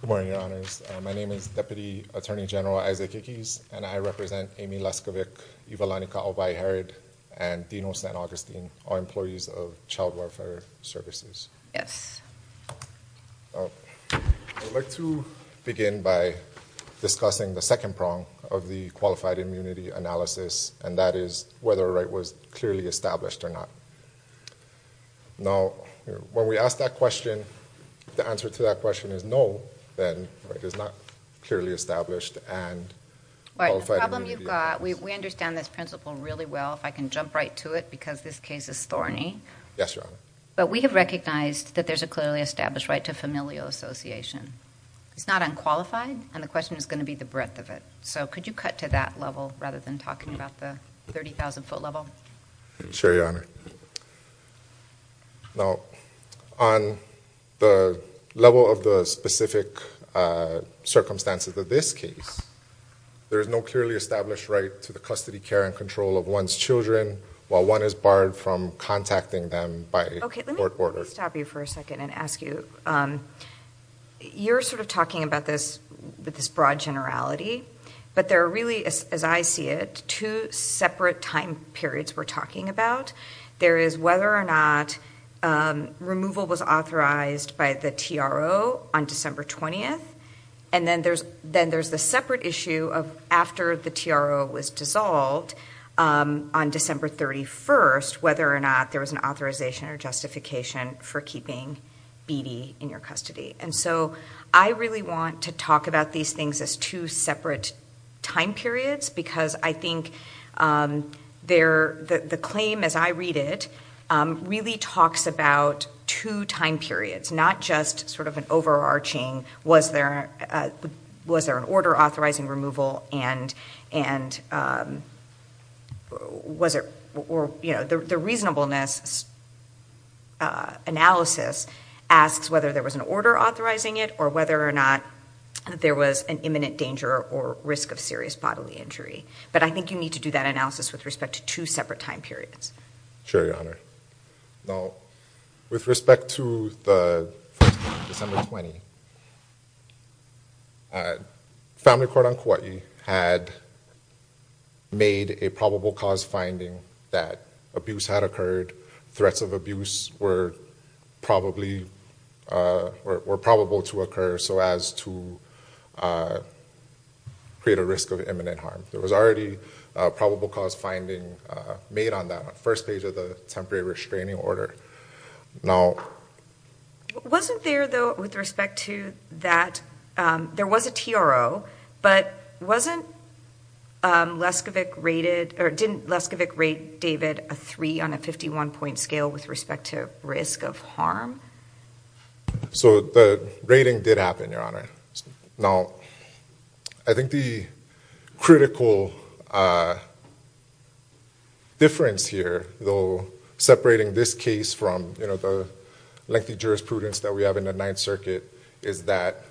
Good morning, Your Honors. My name is Deputy Attorney General Isaac Ickes, and I represent Amy Leskovic, Ivelanika Obai-Harrod, and Dino St. Augustine, our employees of Child Welfare Services. Yes. I'd like to begin by discussing the second prong of the Qualified Immunity Analysis, and that is whether a right was clearly established or not. Now, when we ask that question, if the answer to that question is no, then a right is not clearly established and Qualified Immunity... The problem you've got, we understand this principle really well, if I can jump right to it, because this case is thorny, but we have recognized that there's a clearly established right to familial association. It's not unqualified, and the question is going to be the breadth of it. So, could you cut to that level, rather than talking about the 30,000-foot level? Sure, Your Honor. Now, on the level of the specific circumstances of this case, there is no clearly established right to the custody, care, and control of one's children while one is barred from contacting them by court order. Okay, let me stop you for a second and ask you, you're sort of talking about this with this broad generality, but there are really, as I see it, two separate time periods we're talking about. There is whether or not removal was authorized by the TRO on December 20th, and then there's the separate issue of after the TRO was dissolved on December 31st, whether or not there was an authorization or justification for keeping Beattie in your custody. And so, I really want to talk about these things as two separate time periods, because I think the claim, as I read it, really talks about two time periods, not just sort of an overarching was there an order authorizing removal, and the reasonableness analysis asks whether there was an order authorizing it or whether or not there was an imminent danger or risk of serious bodily injury. But I think you need to do that analysis with respect to two separate time periods. Sure, Your Honor. Now, with respect to the December 20th, Family Court on Kauai had made a probable cause finding that abuse had occurred, threats of abuse were probable to occur so as to create a risk of imminent harm. There was already a probable cause finding made on that on the first page of the temporary restraining order. Now... Didn't Leskovec rate David a three on a 51 point scale with respect to risk of harm? So the rating did happen, Your Honor. Now, I think the critical difference here, though, separating this case from the lengthy jurisprudence that we have in the Ninth Circuit is that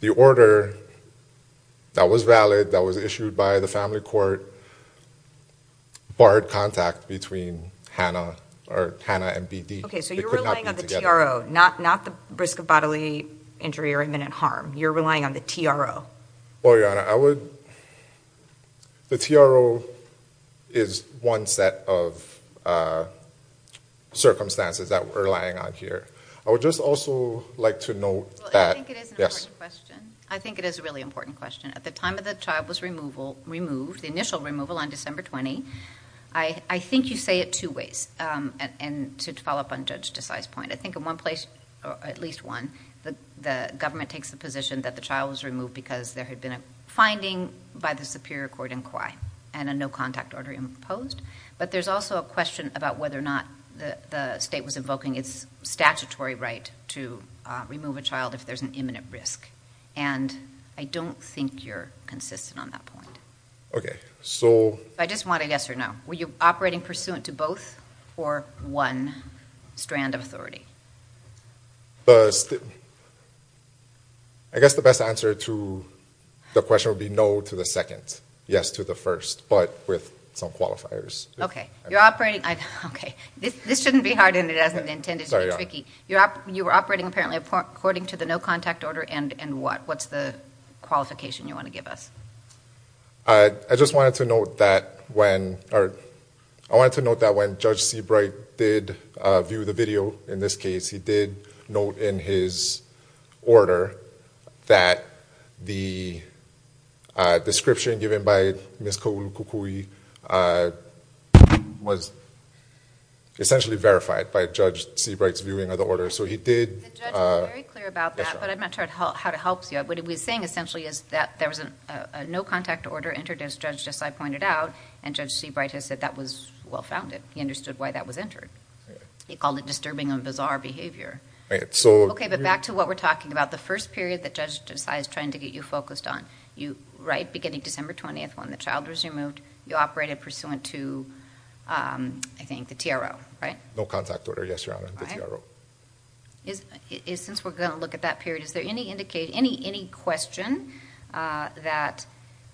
the order that was valid, that was issued by the Family Court, barred contact between Hanna and BD. Okay, so you're relying on the TRO, not the risk of bodily injury or imminent harm. You're relying on the TRO. Well, Your Honor, I would... The TRO is one set of circumstances that we're relying on here. I would just also like to note that... I think it is an important question. I think it is a really important question. At the time that the child was removed, the initial removal on December 20, I think you say it two ways. And to follow up on Judge Desai's point, I think in one place, at least one, the government takes the position that the child was removed because there had been a finding by the Superior Court in Kwai and a no contact order imposed. But there's also a question about whether or not the state was invoking its statutory right to remove a child if there's an imminent risk. And I don't think you're consistent on that point. Okay, so... I just want a yes or no. Were you operating pursuant to both or one strand of authority? I guess the best answer to the question would be no to the second. Yes to the first, but with some qualifiers. Okay. You're operating... Okay. This shouldn't be hard and it isn't intended to be tricky. You were operating apparently according to the no contact order and what? What's the qualification you want to give us? I just wanted to note that when... I wanted to note that when Judge Seabright did view the video, in this case, he did note in his order that the description given by Ms. Kaulukukui was essentially verified by Judge Seabright's viewing of the order. So he did... The judge was very clear about that, but I'm not sure how it helps you. What he was saying essentially is that there was a no contact order entered as Judge Desai pointed out and Judge Seabright has said that was well-founded. He understood why that was entered. He called it disturbing and bizarre behavior. Right, so... Okay, but back to what we're talking about. The first period that Judge Desai is trying to get you focused on, right? Beginning December 20th when the child was removed, you operated pursuant to, I think, the TRO, right? No contact order, yes, Your Honor. The TRO. Since we're going to look at that period, is there any question that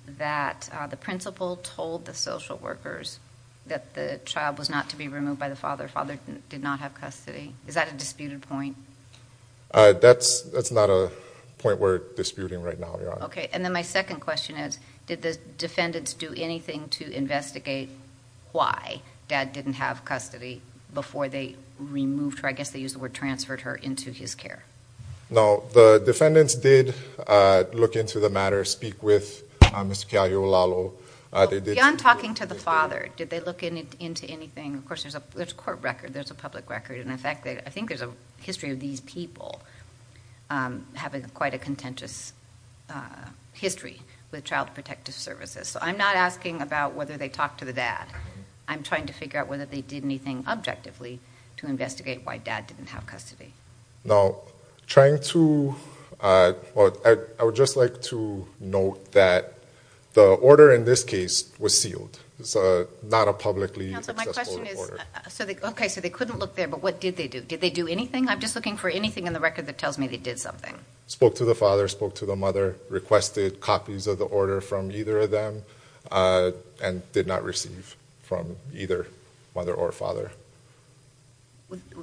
the principal told the social workers that the child was not to be removed by the father? Father did not have custody. Is that a disputed point? That's not a point we're disputing right now, Your Honor. Okay, and then my second question is, did the defendants do anything to investigate why dad didn't have custody before they removed her? I guess they used the word transferred her into his care. No, the defendants did look into the matter, speak with Mr. Kealohalolo. Beyond talking to the father, did they look into anything? Of course, there's a court record, there's a public record. In fact, I think there's a history of these people having quite a contentious history with Child Protective Services. I'm not asking about whether they talked to the dad. I'm trying to figure out whether they did anything objectively to investigate why dad didn't have custody. Now, I would just like to note that the order in this case was sealed. It's not a publicly accessible order. Okay, so they couldn't look there, but what did they do? Did they do anything? I'm just looking for anything in the record that tells me they did something. Spoke to the father, spoke to the mother, requested copies of the order from either of them, and did not receive from either mother or father.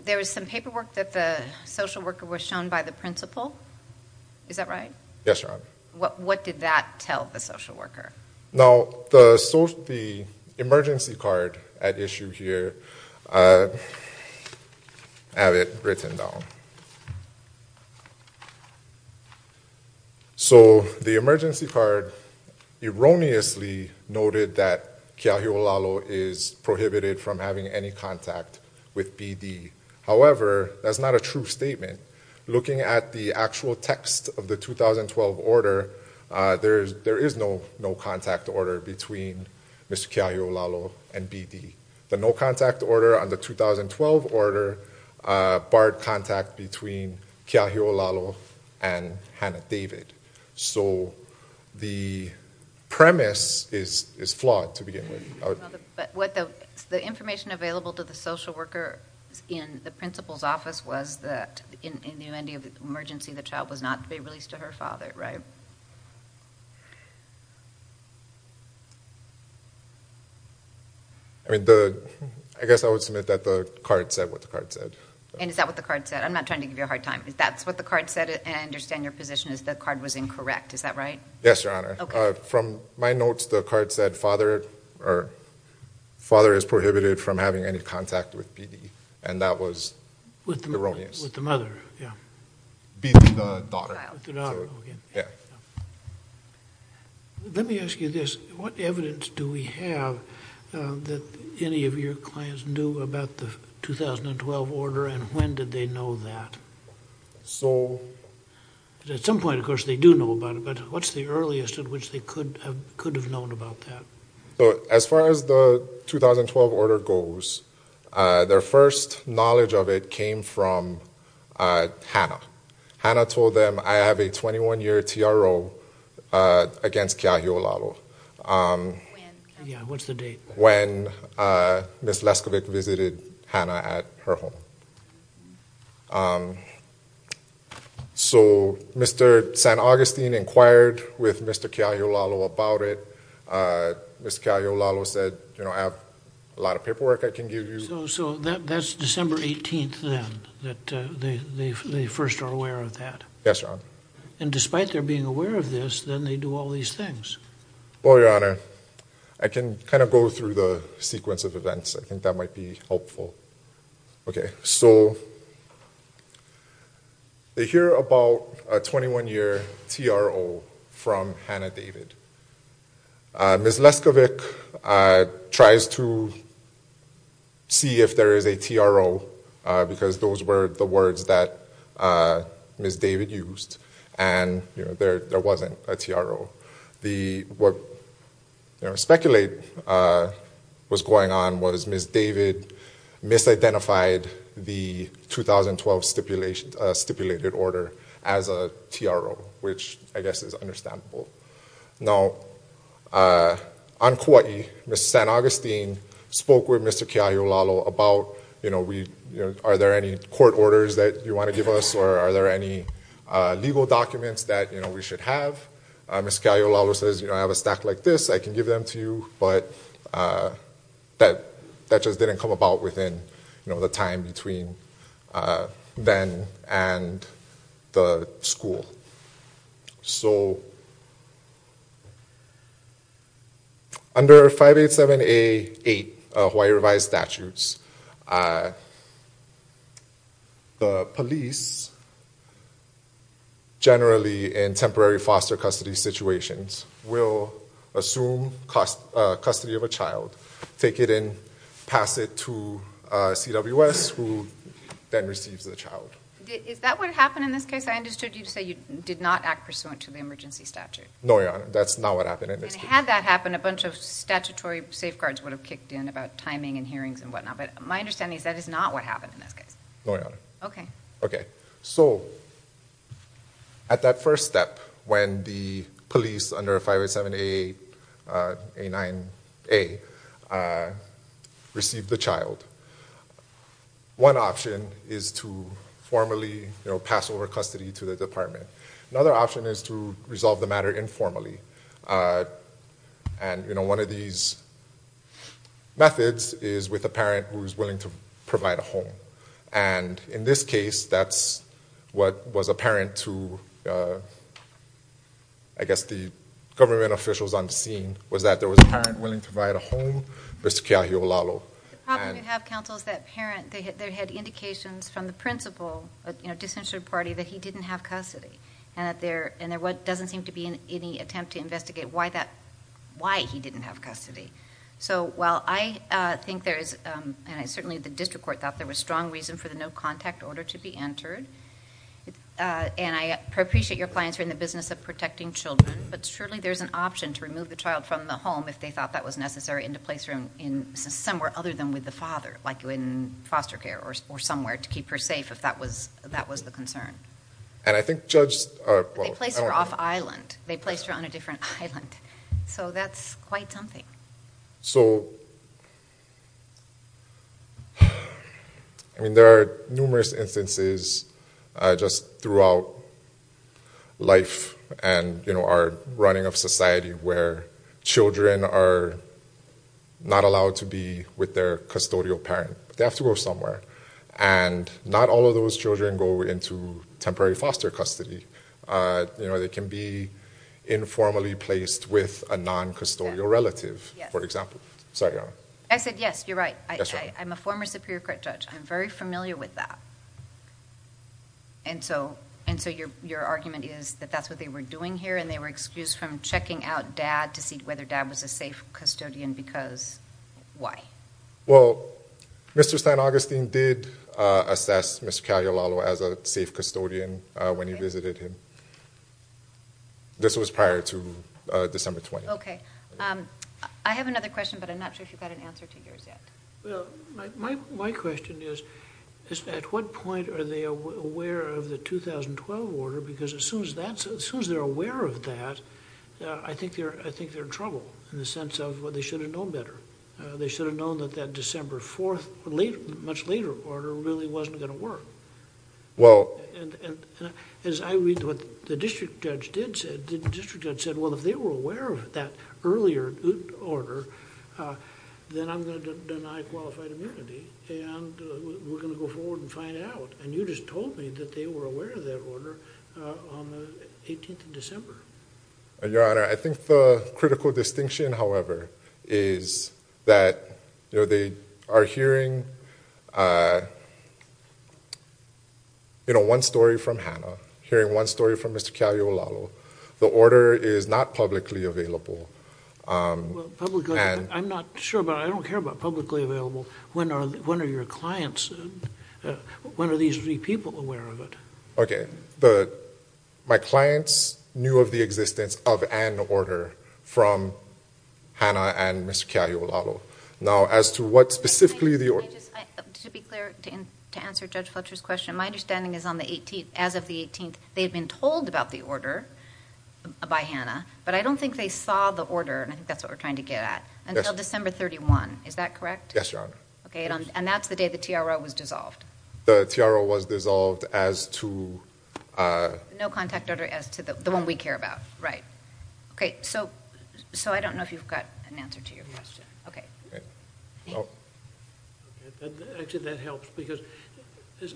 There was some paperwork that the social worker was shown by the principal. Is that right? Yes, Your Honor. What did that tell the social worker? Now, the emergency card at issue here, I have it written down. So, the emergency card erroneously noted that Keahiolalo is prohibited from having any contact with BD. However, that's not a true statement. Looking at the actual text of the 2012 order, there is no contact order between Mr. Keahiolalo and BD. The no contact order on the 2012 order barred contact between Keahiolalo and Hannah David. So, the premise is flawed to begin with. The information available to the social worker in the principal's office was that in the emergency, the child was not to be released to her father, right? I guess I would submit that the card said what the card said. And is that what the card said? I'm not trying to give you a hard time. That's what the card said, and I understand your position is the card was incorrect. Is that right? Yes, Your Honor. From my notes, the card said father is prohibited from having any contact with BD, and that was erroneous. With the mother, yeah. BD, the daughter. With the daughter, okay. Yeah. Let me ask you this. What evidence do we have that any of your clients knew about the 2012 order, and when did they know that? So... At some point, of course, they do know about it, but what's the earliest at which they could have known about that? As far as the 2012 order goes, their first knowledge of it came from Hannah. Hannah told them, I have a 21-year TRO against Keahi Olalu when Ms. Leskovic visited Hannah at her home. So Mr. St. Augustine inquired with Mr. Keahi Olalu about it. Ms. Keahi Olalu said, you know, I have a lot of paperwork I can give you. So that's December 18th then, that they first are aware of that? Yes, Your Honor. And despite their being aware of this, then they do all these things? Well, Your Honor, I can kind of go through the sequence of events. I think that might be helpful. Okay. So they hear about a 21-year TRO from Hannah David. Ms. Leskovic tries to see if there is a TRO, because those were the words that Ms. David used, and there wasn't a TRO. What speculate was going on was Ms. David misidentified the 2012 stipulated order as a TRO, which I guess is understandable. Now, on Kauai, Ms. St. Augustine spoke with Mr. Keahi Olalu about, you know, are there any court orders that you want to give us, or are there any legal documents that we should have? Ms. Keahi Olalu says, you know, I have a stack like this, I can give them to you, but that just didn't come about within the time between then and the school. So, under 587A8, Hawaii revised statutes, the police, generally in temporary foster custody situations, will assume custody of a child, take it in, pass it to CWS, who then receives the child. Is that what happened in this case? I understood you to say you did not act pursuant to the emergency statute. No, Your Honor. That's not what happened in this case. And had that happened, a bunch of statutory safeguards would have kicked in about timing and hearings and whatnot, but my understanding is that is not what happened in this case. No, Your Honor. Okay. Okay. So, at that first step, when the police under 587A8, A9A, received the child, one option is to formally, you know, pass over custody to the department. Another option is to resolve the matter informally. And, you know, one of these methods is with a parent who is willing to provide a home. And in this case, that's apparent to, I guess, the government officials on the scene, was that there was a parent willing to provide a home, Mr. Keahi Olalo. The problem you have, counsel, is that parent, they had indications from the principal, you know, disinterested party, that he didn't have custody. And there doesn't seem to be any attempt to investigate why he didn't have custody. So, while I think there is, and certainly the district court thought there was strong reason for the no contact order to be entered, and I appreciate your clients are in the business of protecting children, but surely there's an option to remove the child from the home if they thought that was necessary and to place her in somewhere other than with the father, like in foster care or somewhere to keep her safe, if that was the concern. And I think Judge... They placed her off island. They placed her on a different island. So that's quite something. So, I mean, there are numerous instances just throughout life and, you know, our running of society where children are not allowed to be with their custodial parent. They have to go somewhere. And not all of those children go into temporary foster custody. You know, they can be informally placed with a non-custodial relative, for example. Sorry, Your Honor. I said yes, you're right. I'm a former superior court judge. I'm very familiar with that. And so your argument is that that's what they were doing here and they were excused from checking out dad to see whether dad was a safe custodian because why? Well, Mr. Stein-Augustine did assess Ms. Kaliolalo as a safe custodian when he visited him. This was prior to December 20th. Okay. I have another question, but I'm not sure if you've got an answer to yours yet. Well, my question is, at what point are they aware of the 2012 order? Because as soon as they're aware of that, I think they're in trouble in the sense of, well, they should have known better. They should have known that that December 4th, much later order, really wasn't going to work. Well... And as I read what the district judge did say, the district judge said, well, if they were aware of that earlier order, then I'm going to deny qualified immunity and we're going to go forward and find out. And you just told me that they were aware of that order on the 18th of December. Your Honor, I think the critical distinction, however, is that they are hearing, you know, one story from Hannah, hearing one story from Mr. Kaliolalo. The order is not publicly available. Well, publicly... And... I'm not sure, but I don't care about publicly available. When are your clients... when are these three people aware of it? Okay. My clients knew of the existence of an order from Hannah and Mr. Kaliolalo. Now, as to what specifically the order... May I just... to be clear, to answer Judge Fletcher's question, my understanding is as of the 18th, they had been told about the order by Hannah, but I don't think they saw the order, and I think that's what we're trying to get at, until December 31. Is that correct? Yes, Your Honor. Okay, and that's the day the TRO was dissolved. The TRO was dissolved as to... No contact order as to the one we care about, right. Okay, so I don't know if you've got an answer to your question. Okay. Okay. Actually, that helps because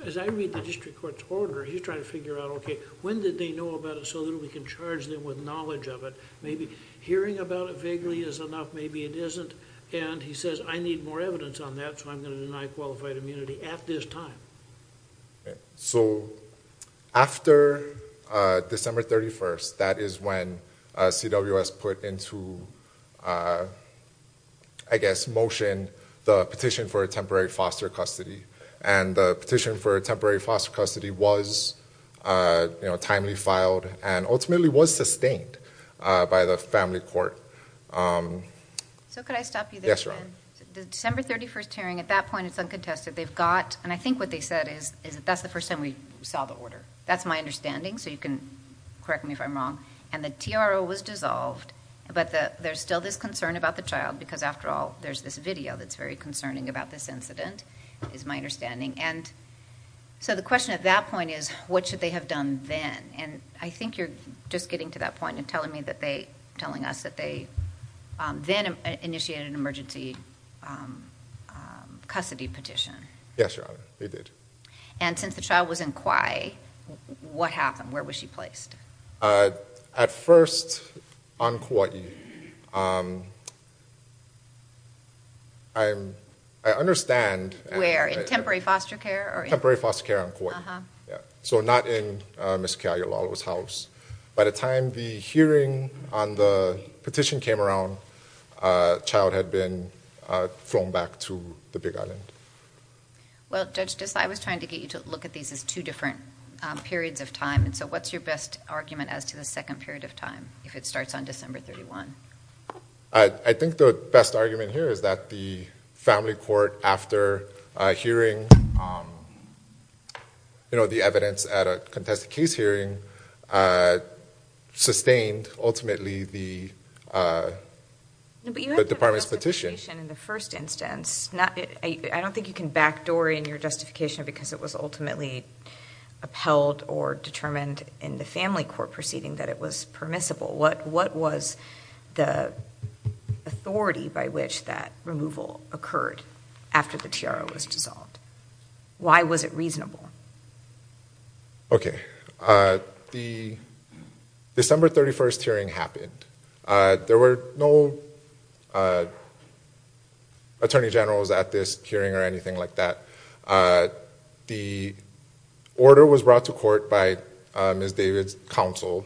as I read the district court's order, he's trying to figure out, okay, when did they know about it so that we can charge them with knowledge of it? Maybe hearing about it vaguely is enough, maybe it isn't, and he may need more evidence on that, so I'm going to deny qualified immunity at this time. Okay, so after December 31st, that is when CWS put into, I guess, motion, the petition for a temporary foster custody, and the petition for a temporary foster custody was timely filed and ultimately was sustained by the family court. So could I stop you there? Yes, Your Honor. The December 31st hearing, at that point, it's uncontested. They've got... and I think what they said is, that's the first time we saw the order. That's my understanding, so you can correct me if I'm wrong. The TRO was dissolved, but there's still this concern about the child, because after all, there's this video that's very concerning about this incident, is my understanding. The question at that point is, what should they have done then? I think you're just getting to that point and telling me that they... telling us that they then initiated an emergency custody petition. Yes, Your Honor, they did. And since the child was in Kauai, what happened? Where was she placed? At first, on Kauai. I understand... Where? In temporary foster care? Temporary foster care on Kauai. So not in Ms. Kealoha's house. By the time the hearing on the petition came around, the child had been flown back to the Big Island. Well, Judge Dislai, I was trying to get you to look at these as two different periods of time, and so what's your best argument as to the second period of time, if it starts on December 31? I think the best argument here is that the family court, after hearing the evidence at a contested case hearing, sustained ultimately the department's But you had to have justification in the first instance. I don't think you can back Dory in your justification because it was ultimately upheld or determined in the family court proceeding that it was permissible. What was the authority by which that removal occurred after the TRO was dissolved? Why was it Okay. The December 31st hearing happened. There were no attorney generals at this hearing or anything like that. The order was brought to court by Ms. David's counsel.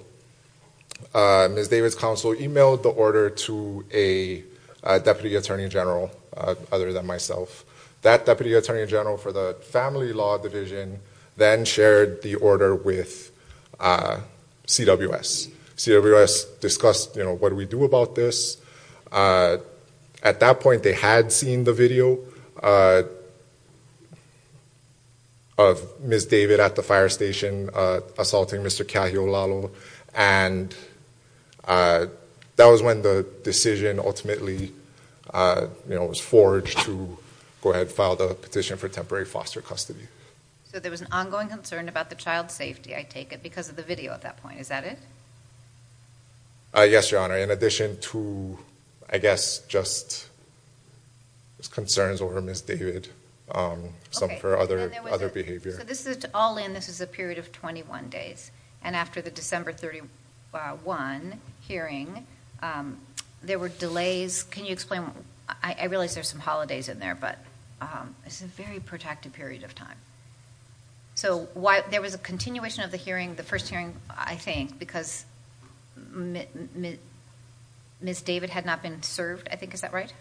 Ms. David's counsel emailed the order to a deputy attorney general other than myself. That deputy attorney general for the family law division then shared the order with CWS. CWS discussed what we do about this. At that point they had seen the video of Ms. David at the fire station assaulting Mr. Keahiolalo, and that was when the decision ultimately was forged to go ahead and file the petition for temporary foster custody. So there was an ongoing concern about the child's safety, I take it, because of the video at that point. Is that it? Yes, Your Honor. In addition to, I guess, just concerns over Ms. David, some for other behavior. All in, this is a period of 21 days. After the December 31 hearing, there were delays. Can you explain? I realize there's some holidays in there, but it's a very protracted period of time. There was a continuation of the hearing, the hearing after Ms. David had not been served, I think. Is that right?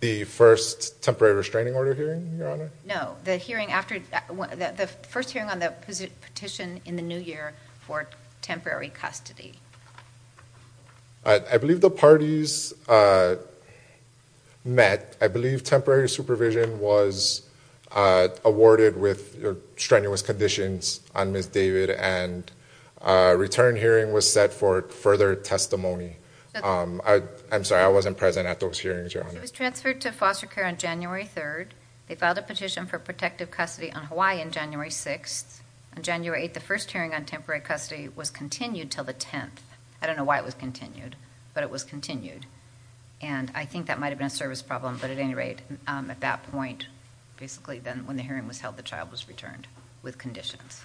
The first temporary restraining order hearing, Your Honor? No, the first hearing on the petition in the new year for temporary custody. I believe the parties met. I believe temporary supervision was awarded with strenuous conditions on Ms. David, and a return hearing was set for further testimony. I'm sorry, I wasn't present at those hearings, Your Honor. It was transferred to foster care on January 3rd. They filed a petition for protective custody on Hawaii on January 6th. On January 8th, the first hearing on temporary custody was continued until the 10th. I don't know why it was continued, but it was continued. And I think that might have been a service problem, but at any rate, at that point, basically then when the hearing was held, the child was returned with conditions.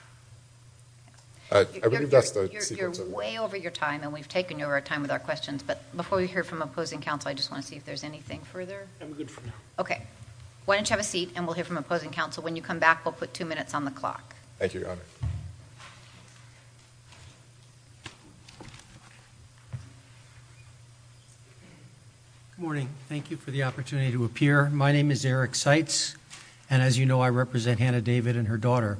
I believe that's the sequence of... You're way over your time, and we've taken your time with our questions, but before we hear from opposing counsel, I just want to see if there's anything further. I'm good for now. Okay. Why don't you have a seat, and we'll hear from opposing counsel. When you come back, we'll put two minutes on the clock. Thank you, Your Honor. Good morning. Thank you for the opportunity to appear. My name is Eric Seitz, and as you know, I represent Hannah David and her daughter,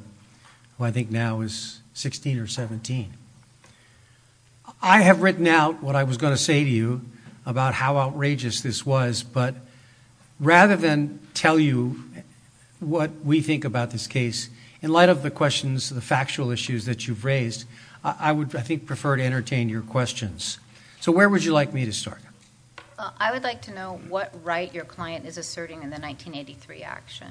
who I think now is sixteen or seventeen. I have written out what I was going to say to you about how outrageous this was, but rather than tell you what we think about this case, in light of the questions, the factual issues that you've raised, I would, I think, prefer to entertain your questions. So where would you like me to start? I would like to know what right your client is asserting in the 1983 action.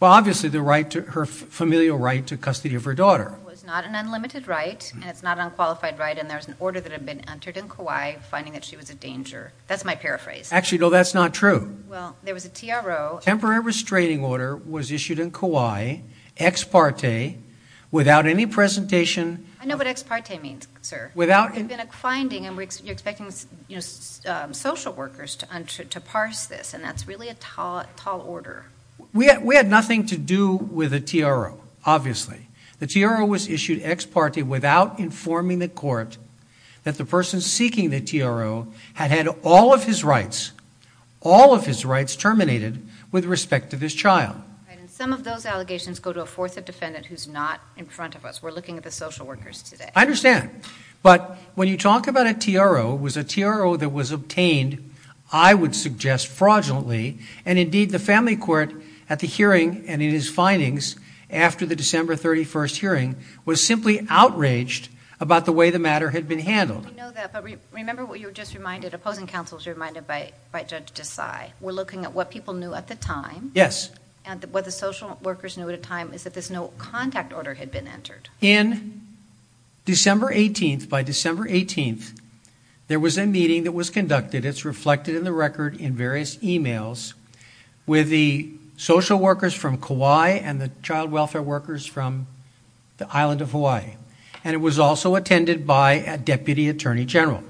Well, obviously, her familial right to custody of her daughter. It was not an unlimited right, and it's not an unqualified right, and there was an order that had been entered in Kauai finding that she was a danger. That's my paraphrase. Actually, no, that's not true. Well, there was a TRO... Temporary restraining order was issued in Kauai, ex parte, without any presentation... I know what ex parte means, sir. Without... You're expecting social workers to parse this, and that's really a tall order. We had nothing to do with the TRO, obviously. The TRO was issued ex parte without informing the court that the person seeking the TRO had had all of his rights, all of his rights terminated with respect to this child. Some of those allegations go to a fourth defendant who's not in front of us. We're looking at the social workers today. I understand, but when you talk about a TRO, was a TRO that was obtained, I would suggest fraudulently, and indeed the family court at the hearing and in his findings after the December 31st hearing was simply outraged about the way the matter had been handled. We know that, but remember what you were just reminded, opposing counsel was reminded by Judge Desai. We're looking at what people knew at the time... Yes. What the social workers knew at the time is that there's no contact order had been entered. In December 18th, by December 18th, there was a meeting that was conducted. It's reflected in the record in various emails with the social workers from Kauai and the child welfare workers from the island of Hawaii. It was also attended by a Deputy Attorney General.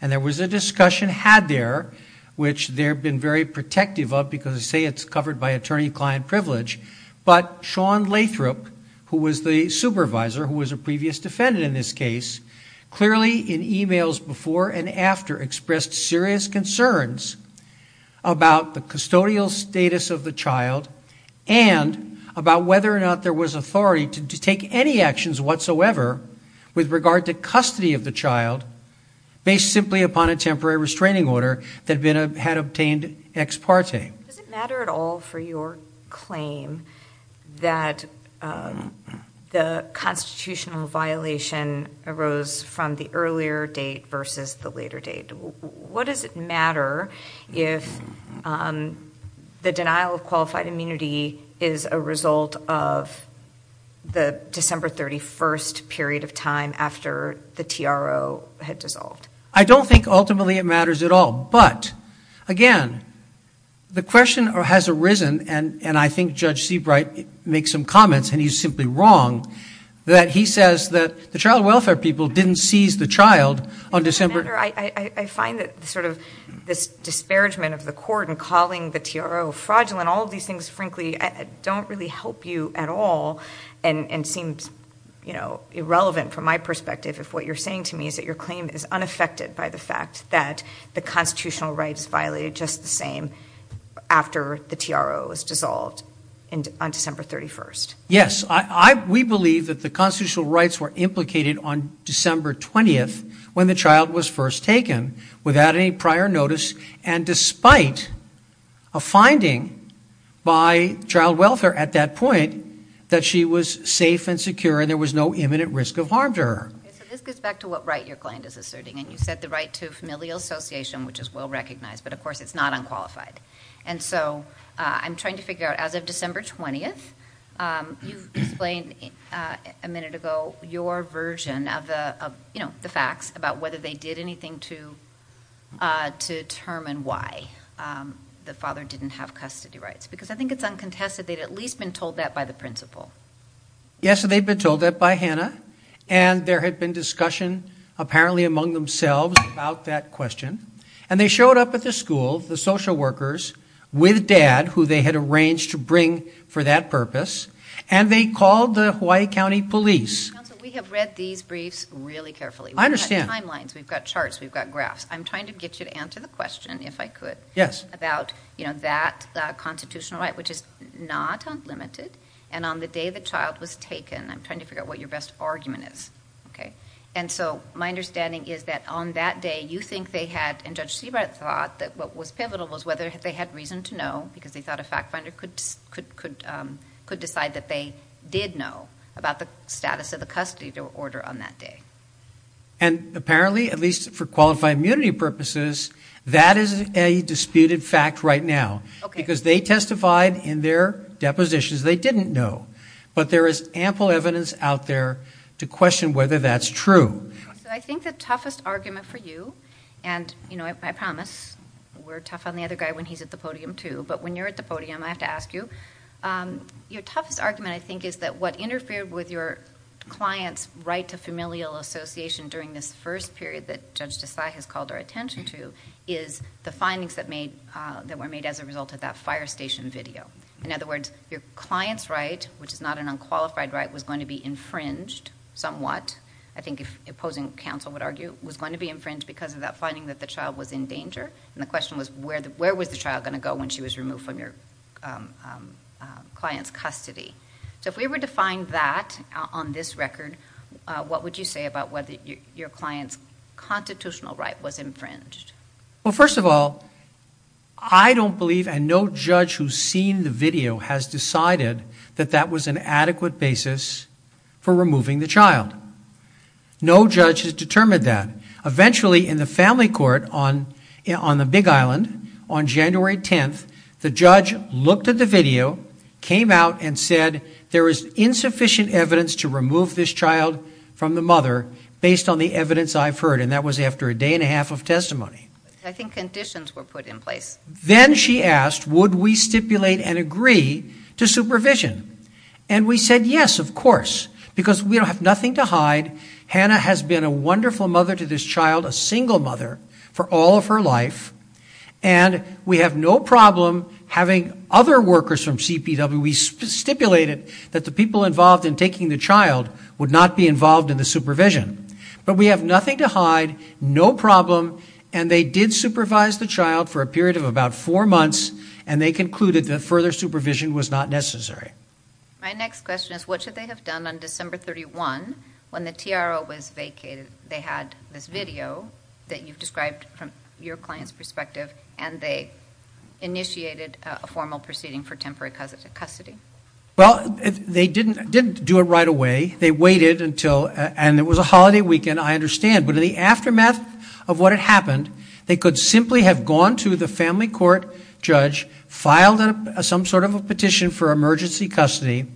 There was a discussion had there, which they've been very protective of because they say it's covered by attorney-client privilege, but Shawn Lathrop, who was the supervisor, who was a previous defendant in this case, clearly in emails before and after expressed serious concerns about the custodial status of the child and about whether or not there was authority to take any actions whatsoever with regard to custody of the child based simply upon a temporary restraining order that had obtained ex parte. Does it matter at all for your claim that the constitutional violation arose from the earlier date versus the later date? What does it matter if the denial of qualified immunity is a result of the December 31st period of time after the TRO had dissolved? I don't think ultimately it matters at all. But, again, the question has arisen, and I think Judge Seabright makes some comments and he's simply wrong, that he says that the child welfare people didn't seize the child on December. I find that sort of this disparagement of the court in calling the TRO fraudulent, all of these things, frankly, don't really help you at all and seems irrelevant from my perspective if what you're saying to me is that your claim is unaffected by the fact that the constitutional rights violated just the same after the TRO was dissolved on December 31st. Yes. We believe that the constitutional rights were implicated on December 20th when the child was first taken without any prior notice and despite a finding by child welfare at that point that she was safe and secure and there was no imminent risk of harm to her. Okay, so this gets back to what right your client is asserting, and you said the right to familial association, which is well recognized, but of course it's not unqualified. And so I'm trying to figure out, as of December 20th, you explained a minute ago your version of the facts about whether they did anything to determine why the father didn't have custody rights, because I think it's uncontested they'd at least been told that by the principal. Yes, they'd been told that by Hannah, and there had been discussion apparently among themselves about that question, and they showed up at the school, the social workers, with Dad, who they had arranged to bring for that purpose, and they called the Hawaii County Police. Counsel, we have read these briefs really carefully. I understand. We've got timelines, we've got charts, we've got graphs. I'm trying to get you to answer the question, if I could, about that constitutional right, which is not unlimited, and on the day the child was taken. I'm trying to figure out what your best argument is. And so my understanding is that on that day, you think they had, and Judge Siebert thought that what was pivotal was whether they had reason to know, because they thought a fact finder could decide that they did know about the status of the custody order on that day. And apparently, at least for qualified immunity purposes, that is a disputed fact right now, because they testified in their depositions, they didn't know. But there is ample evidence out there to question whether that's true. So I think the toughest argument for you, and, you know, I promise, we're tough on the other guy when he's at the podium too, but when you're at the podium, I have to ask you, your toughest argument, I think, is that what interfered with your client's right to familial association during this first period that Judge Desai has called our attention to is the findings that were made as a result of that fire station video. In other words, your client's right, which is not an unqualified right, was going to be infringed somewhat, I think if opposing counsel would argue, was going to be infringed because of that finding that the child was in danger, and the question was where was the child going to go when she was removed from your client's custody. So if we were to find that on this record, what would you say about whether your client's constitutional right was infringed? Well, first of all, I don't believe, and no judge who's seen the video has decided, that that was an adequate basis for removing the child. No judge has determined that. Eventually, in the family court on the Big Island, on January 10th, the judge looked at the video, came out, and said, there is insufficient evidence to remove this child from the mother based on the evidence I've heard, and that was after a day and a half of testimony. I think conditions were put in place. Then she asked, would we stipulate and agree to supervision? And we said, yes, of course, because we don't have nothing to hide. Hannah has been a wonderful mother to this child, a single mother, for all of her life, and we have no problem having other workers from CPW. We stipulated that the people involved in taking the child would not be involved in the supervision. But we have nothing to hide, no problem, and they did supervise the child for a period of about four months, and they concluded that further supervision was not necessary. My next question is, what should they have done on December 31 when the TRO was vacated? They had this video that you've described from your client's perspective, and they initiated a formal proceeding for temporary custody. Well, they didn't do it right away. They waited until, and it was a holiday weekend, I understand, but in the aftermath of what had happened, they could simply have gone to the family court judge, filed some sort of a petition for emergency custody,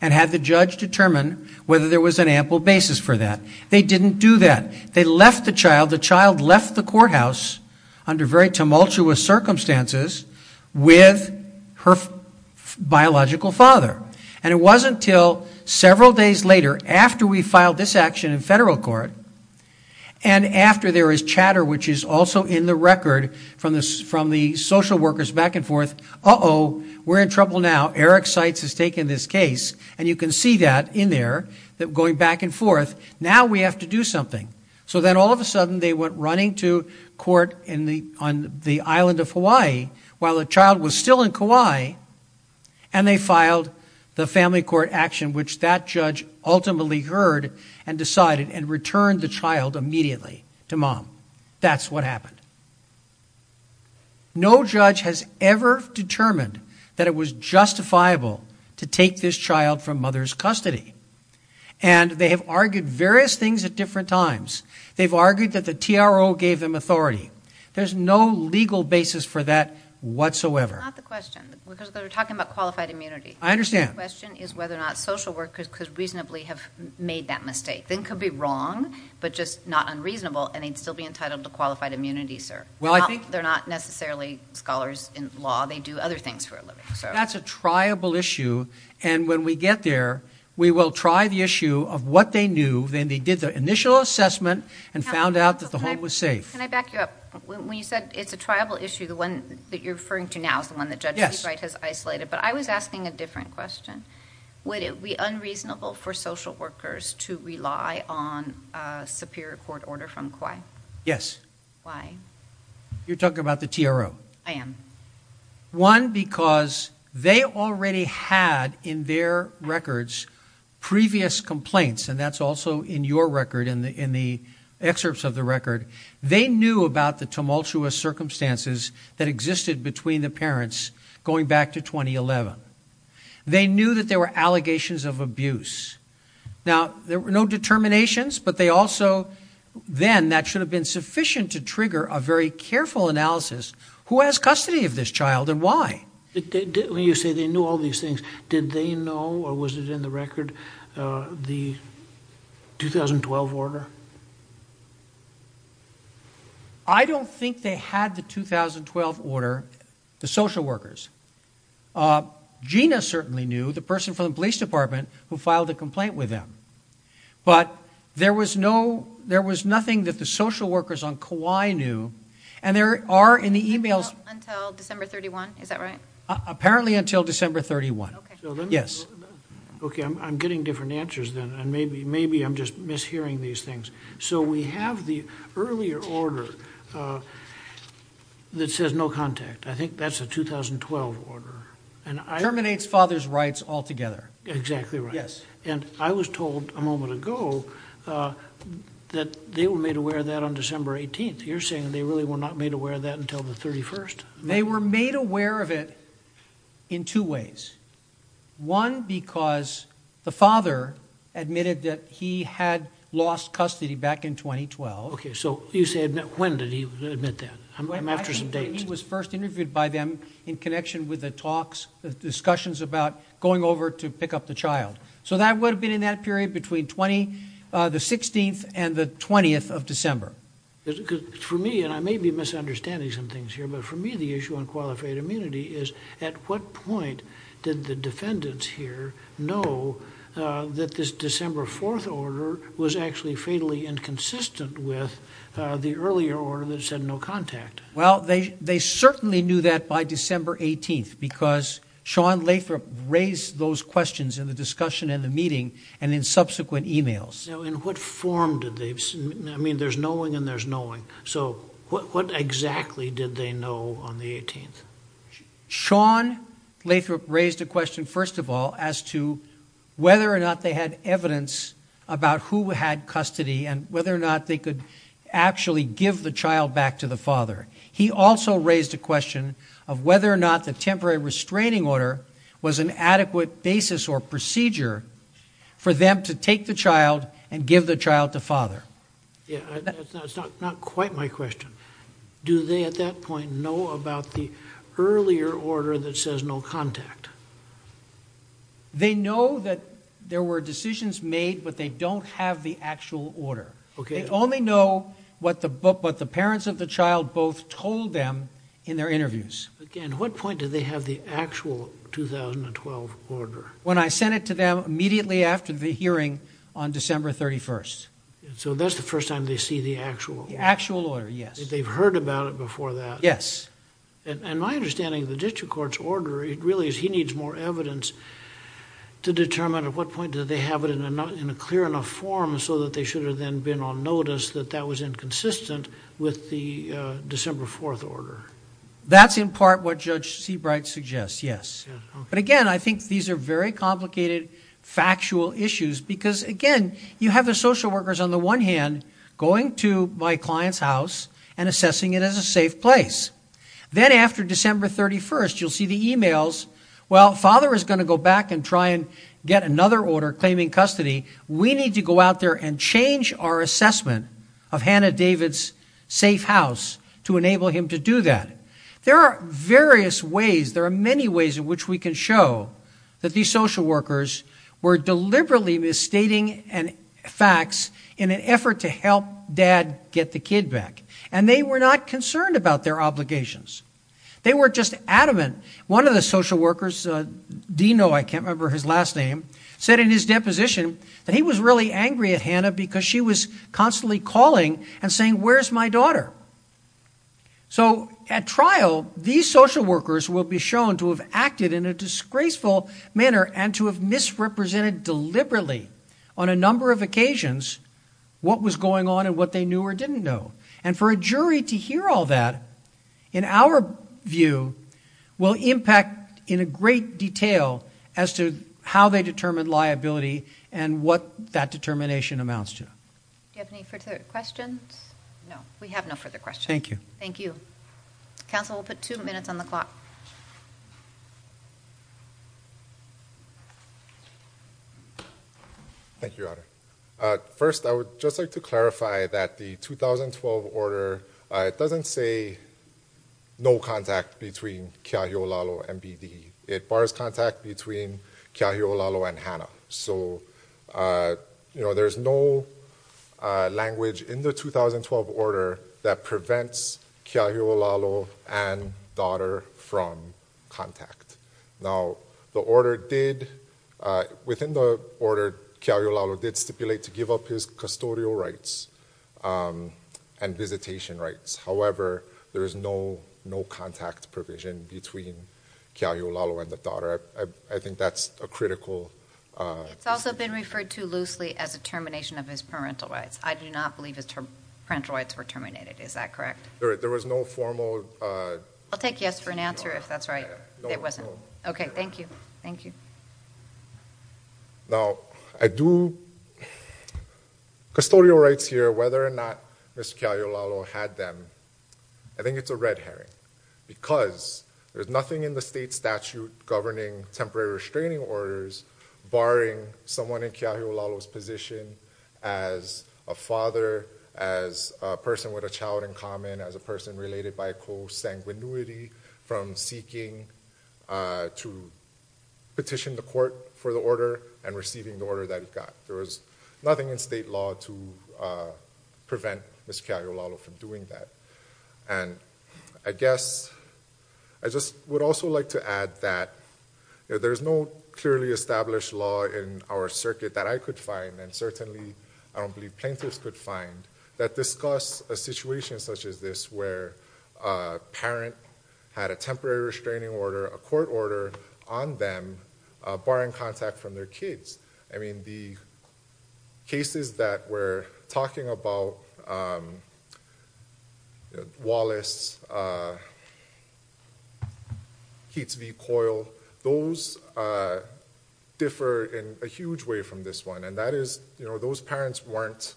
and had the judge determine whether there was an ample basis for that. They didn't do that. They left the child. The child left the courthouse under very tumultuous circumstances with her biological father, and it wasn't until several days later, after we filed this action in federal court, and after there was chatter, which is also in the record from the social workers back and forth, uh-oh, we're in trouble now, Eric Seitz has taken this case, and you can see that in there, that going back and forth, now we have to do something. So then all of a sudden they went running to court on the island of Hawaii while the child was still in Kauai, and they filed the family court action, which that judge ultimately heard and decided and returned the child immediately to mom. That's what happened. No judge has ever determined that it was justifiable to take this child from mother's custody, and they have argued various things at different times. They've argued that the TRO gave them authority. There's no legal basis for that whatsoever. Not the question, because they're talking about qualified immunity. I understand. The question is whether or not social workers could reasonably have made that mistake. They could be wrong, but just not unreasonable, and they'd still be entitled to qualified immunity, sir. They're not necessarily scholars in law. They do other things for a living. That's a triable issue, and when we get there, we will try the issue of what they knew. Then they did their initial assessment and found out that the home was safe. Can I back you up? When you said it's a triable issue, the one that you're referring to now is the one that Judge Seabright has isolated, but I was asking a different question. Would it be unreasonable for social workers to rely on a superior court order from Kauai? Yes. Why? You're talking about the TRO. I am. One, because they already had in their records previous complaints, and that's also in your record in the excerpts of the record. They knew about the tumultuous circumstances that existed between the parents going back to 2011. They knew that there were allegations of abuse. Now, there were no determinations, but they also then, and that should have been sufficient to trigger a very careful analysis, who has custody of this child and why. When you say they knew all these things, did they know, or was it in the record, the 2012 order? I don't think they had the 2012 order, the social workers. Gina certainly knew, the person from the police department who filed the complaint with them, but there was nothing that the social workers on Kauai knew, and there are in the e-mails. Until December 31, is that right? Apparently until December 31. Okay. Yes. Okay, I'm getting different answers then, and maybe I'm just mishearing these things. So we have the earlier order that says no contact. I think that's a 2012 order. Terminates father's rights altogether. Exactly right. Yes. And I was told a moment ago that they were made aware of that on December 18th. You're saying they really were not made aware of that until the 31st? They were made aware of it in two ways. One, because the father admitted that he had lost custody back in 2012. Okay, so when did he admit that? I'm after some dates. in connection with the talks, discussions about going over to pick up the child. So that would have been in that period between the 16th and the 20th of December. For me, and I may be misunderstanding some things here, but for me the issue on qualified immunity is at what point did the defendants here know that this December 4th order was actually fatally inconsistent with the earlier order that said no contact? Well, they certainly knew that by December 18th because Sean Lathrop raised those questions in the discussion and the meeting and in subsequent e-mails. Now, in what form did they? I mean, there's knowing and there's knowing. So what exactly did they know on the 18th? Sean Lathrop raised a question, first of all, as to whether or not they had evidence about who had custody and whether or not they could actually give the child back to the father. He also raised a question of whether or not the temporary restraining order was an adequate basis or procedure for them to take the child and give the child to father. Yeah, that's not quite my question. Do they at that point know about the earlier order that says no contact? They know that there were decisions made, but they don't have the actual order. Okay. They only know what the parents of the child both told them in their interviews. Again, what point did they have the actual 2012 order? When I sent it to them immediately after the hearing on December 31st. So that's the first time they see the actual order. The actual order, yes. They've heard about it before that. Yes. And my understanding of the district court's order really is he needs more evidence to determine at what point did they have it in a clear enough form so that they should have then been on notice that that was inconsistent with the December 4th order. That's in part what Judge Seabright suggests, yes. But again, I think these are very complicated factual issues because, again, you have the social workers on the one hand going to my client's house and assessing it as a safe place. Then after December 31st, you'll see the e-mails, well, father is going to go back and try and get another order claiming custody. We need to go out there and change our assessment of Hannah David's safe house to enable him to do that. There are various ways, there are many ways in which we can show that these social workers were deliberately misstating facts in an effort to help dad get the kid back, and they were not concerned about their obligations. They were just adamant. One of the social workers, Dino, I can't remember his last name, said in his deposition that he was really angry at Hannah because she was constantly calling and saying, where's my daughter? So at trial, these social workers will be shown to have acted in a disgraceful manner and to have misrepresented deliberately on a number of occasions what was going on and what they knew or didn't know. For a jury to hear all that, in our view, will impact in a great detail as to how they determine liability and what that determination amounts to. Do you have any further questions? No, we have no further questions. Thank you. Thank you. Council, we'll put two minutes on the clock. Thank you, Audra. First, I would just like to clarify that the 2012 order, it doesn't say no contact between Keahiolalo and BD. It bars contact between Keahiolalo and Hannah. So there's no language in the 2012 order that prevents Keahiolalo and daughter from contact. Now, the order did, within the order, Keahiolalo did stipulate to give up his custodial rights and visitation rights. However, there is no contact provision between Keahiolalo and the daughter. I think that's a critical issue. It's also been referred to loosely as a termination of his parental rights. I do not believe his parental rights were terminated. Is that correct? There was no formal... I'll take yes for an answer if that's right. It wasn't. Okay, thank you. Thank you. Custodial rights here, whether or not Mr. Keahiolalo had them, I think it's a red herring because there's nothing in the state statute governing temporary restraining orders barring someone in Keahiolalo's position as a father, as a person with a child in common, as a person related by co-sanguinuity from seeking to petition the court for the order and receiving the order that he got. There was nothing in state law to prevent Mr. Keahiolalo from doing that. I guess I just would also like to add that there's no clearly established law in our circuit that I could find, and certainly I don't believe plaintiffs could find, that discuss a situation such as this where a parent had a temporary restraining order, a court order on them, barring contact from their kids. I mean, the cases that we're talking about, Wallace, Keats v. Coyle, those differ in a huge way from this one, and that is those parents weren't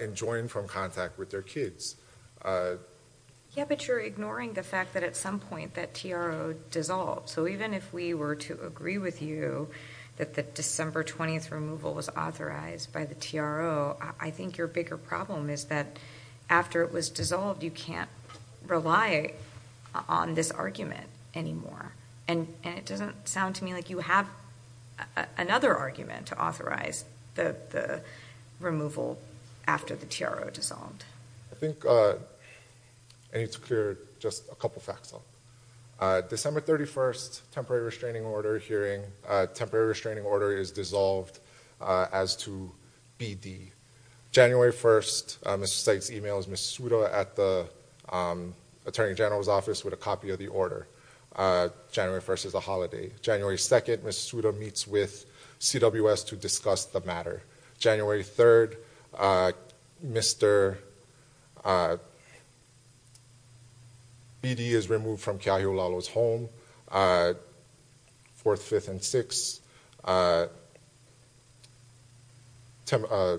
enjoined from contact with their kids. Yeah, but you're ignoring the fact that at some point that TRO dissolved. So even if we were to agree with you that the December 20th removal was authorized by the TRO, I think your bigger problem is that after it was dissolved, you can't rely on this argument anymore. And it doesn't sound to me like you have another argument to authorize the removal after the TRO dissolved. I think I need to clear just a couple facts up. December 31st, temporary restraining order hearing, temporary restraining order is dissolved as to BD. January 1st, Mr. Seitz emails Ms. Suda at the Attorney General's office with a copy of the order. January 1st is a holiday. January 2nd, Ms. Suda meets with CWS to discuss the matter. January 3rd, Mr. BD is removed from Keahiulalo's home. January 4th, 5th, and 6th, a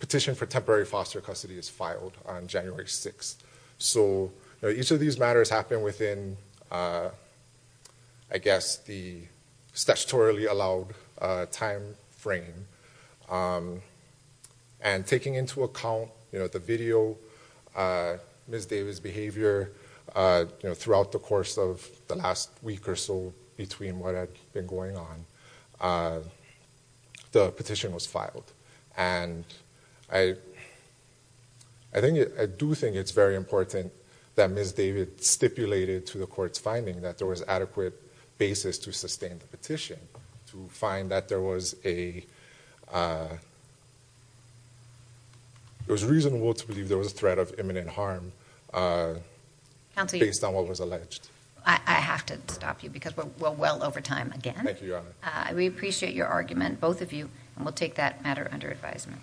petition for temporary foster custody is filed on January 6th. So each of these matters happen within, I guess, the statutorily allowed time frame. And taking into account the video, Ms. Davis' behavior throughout the course of the last week or so between what had been going on, the petition was filed. And I do think it's very important that Ms. Davis stipulated to the court's finding that there was adequate basis to sustain the petition to find that there was a... It was reasonable to believe there was a threat of imminent harm based on what was alleged. I have to stop you because we're well over time again. Thank you, Your Honor. We appreciate your argument, both of you, and we'll take that matter under advisement.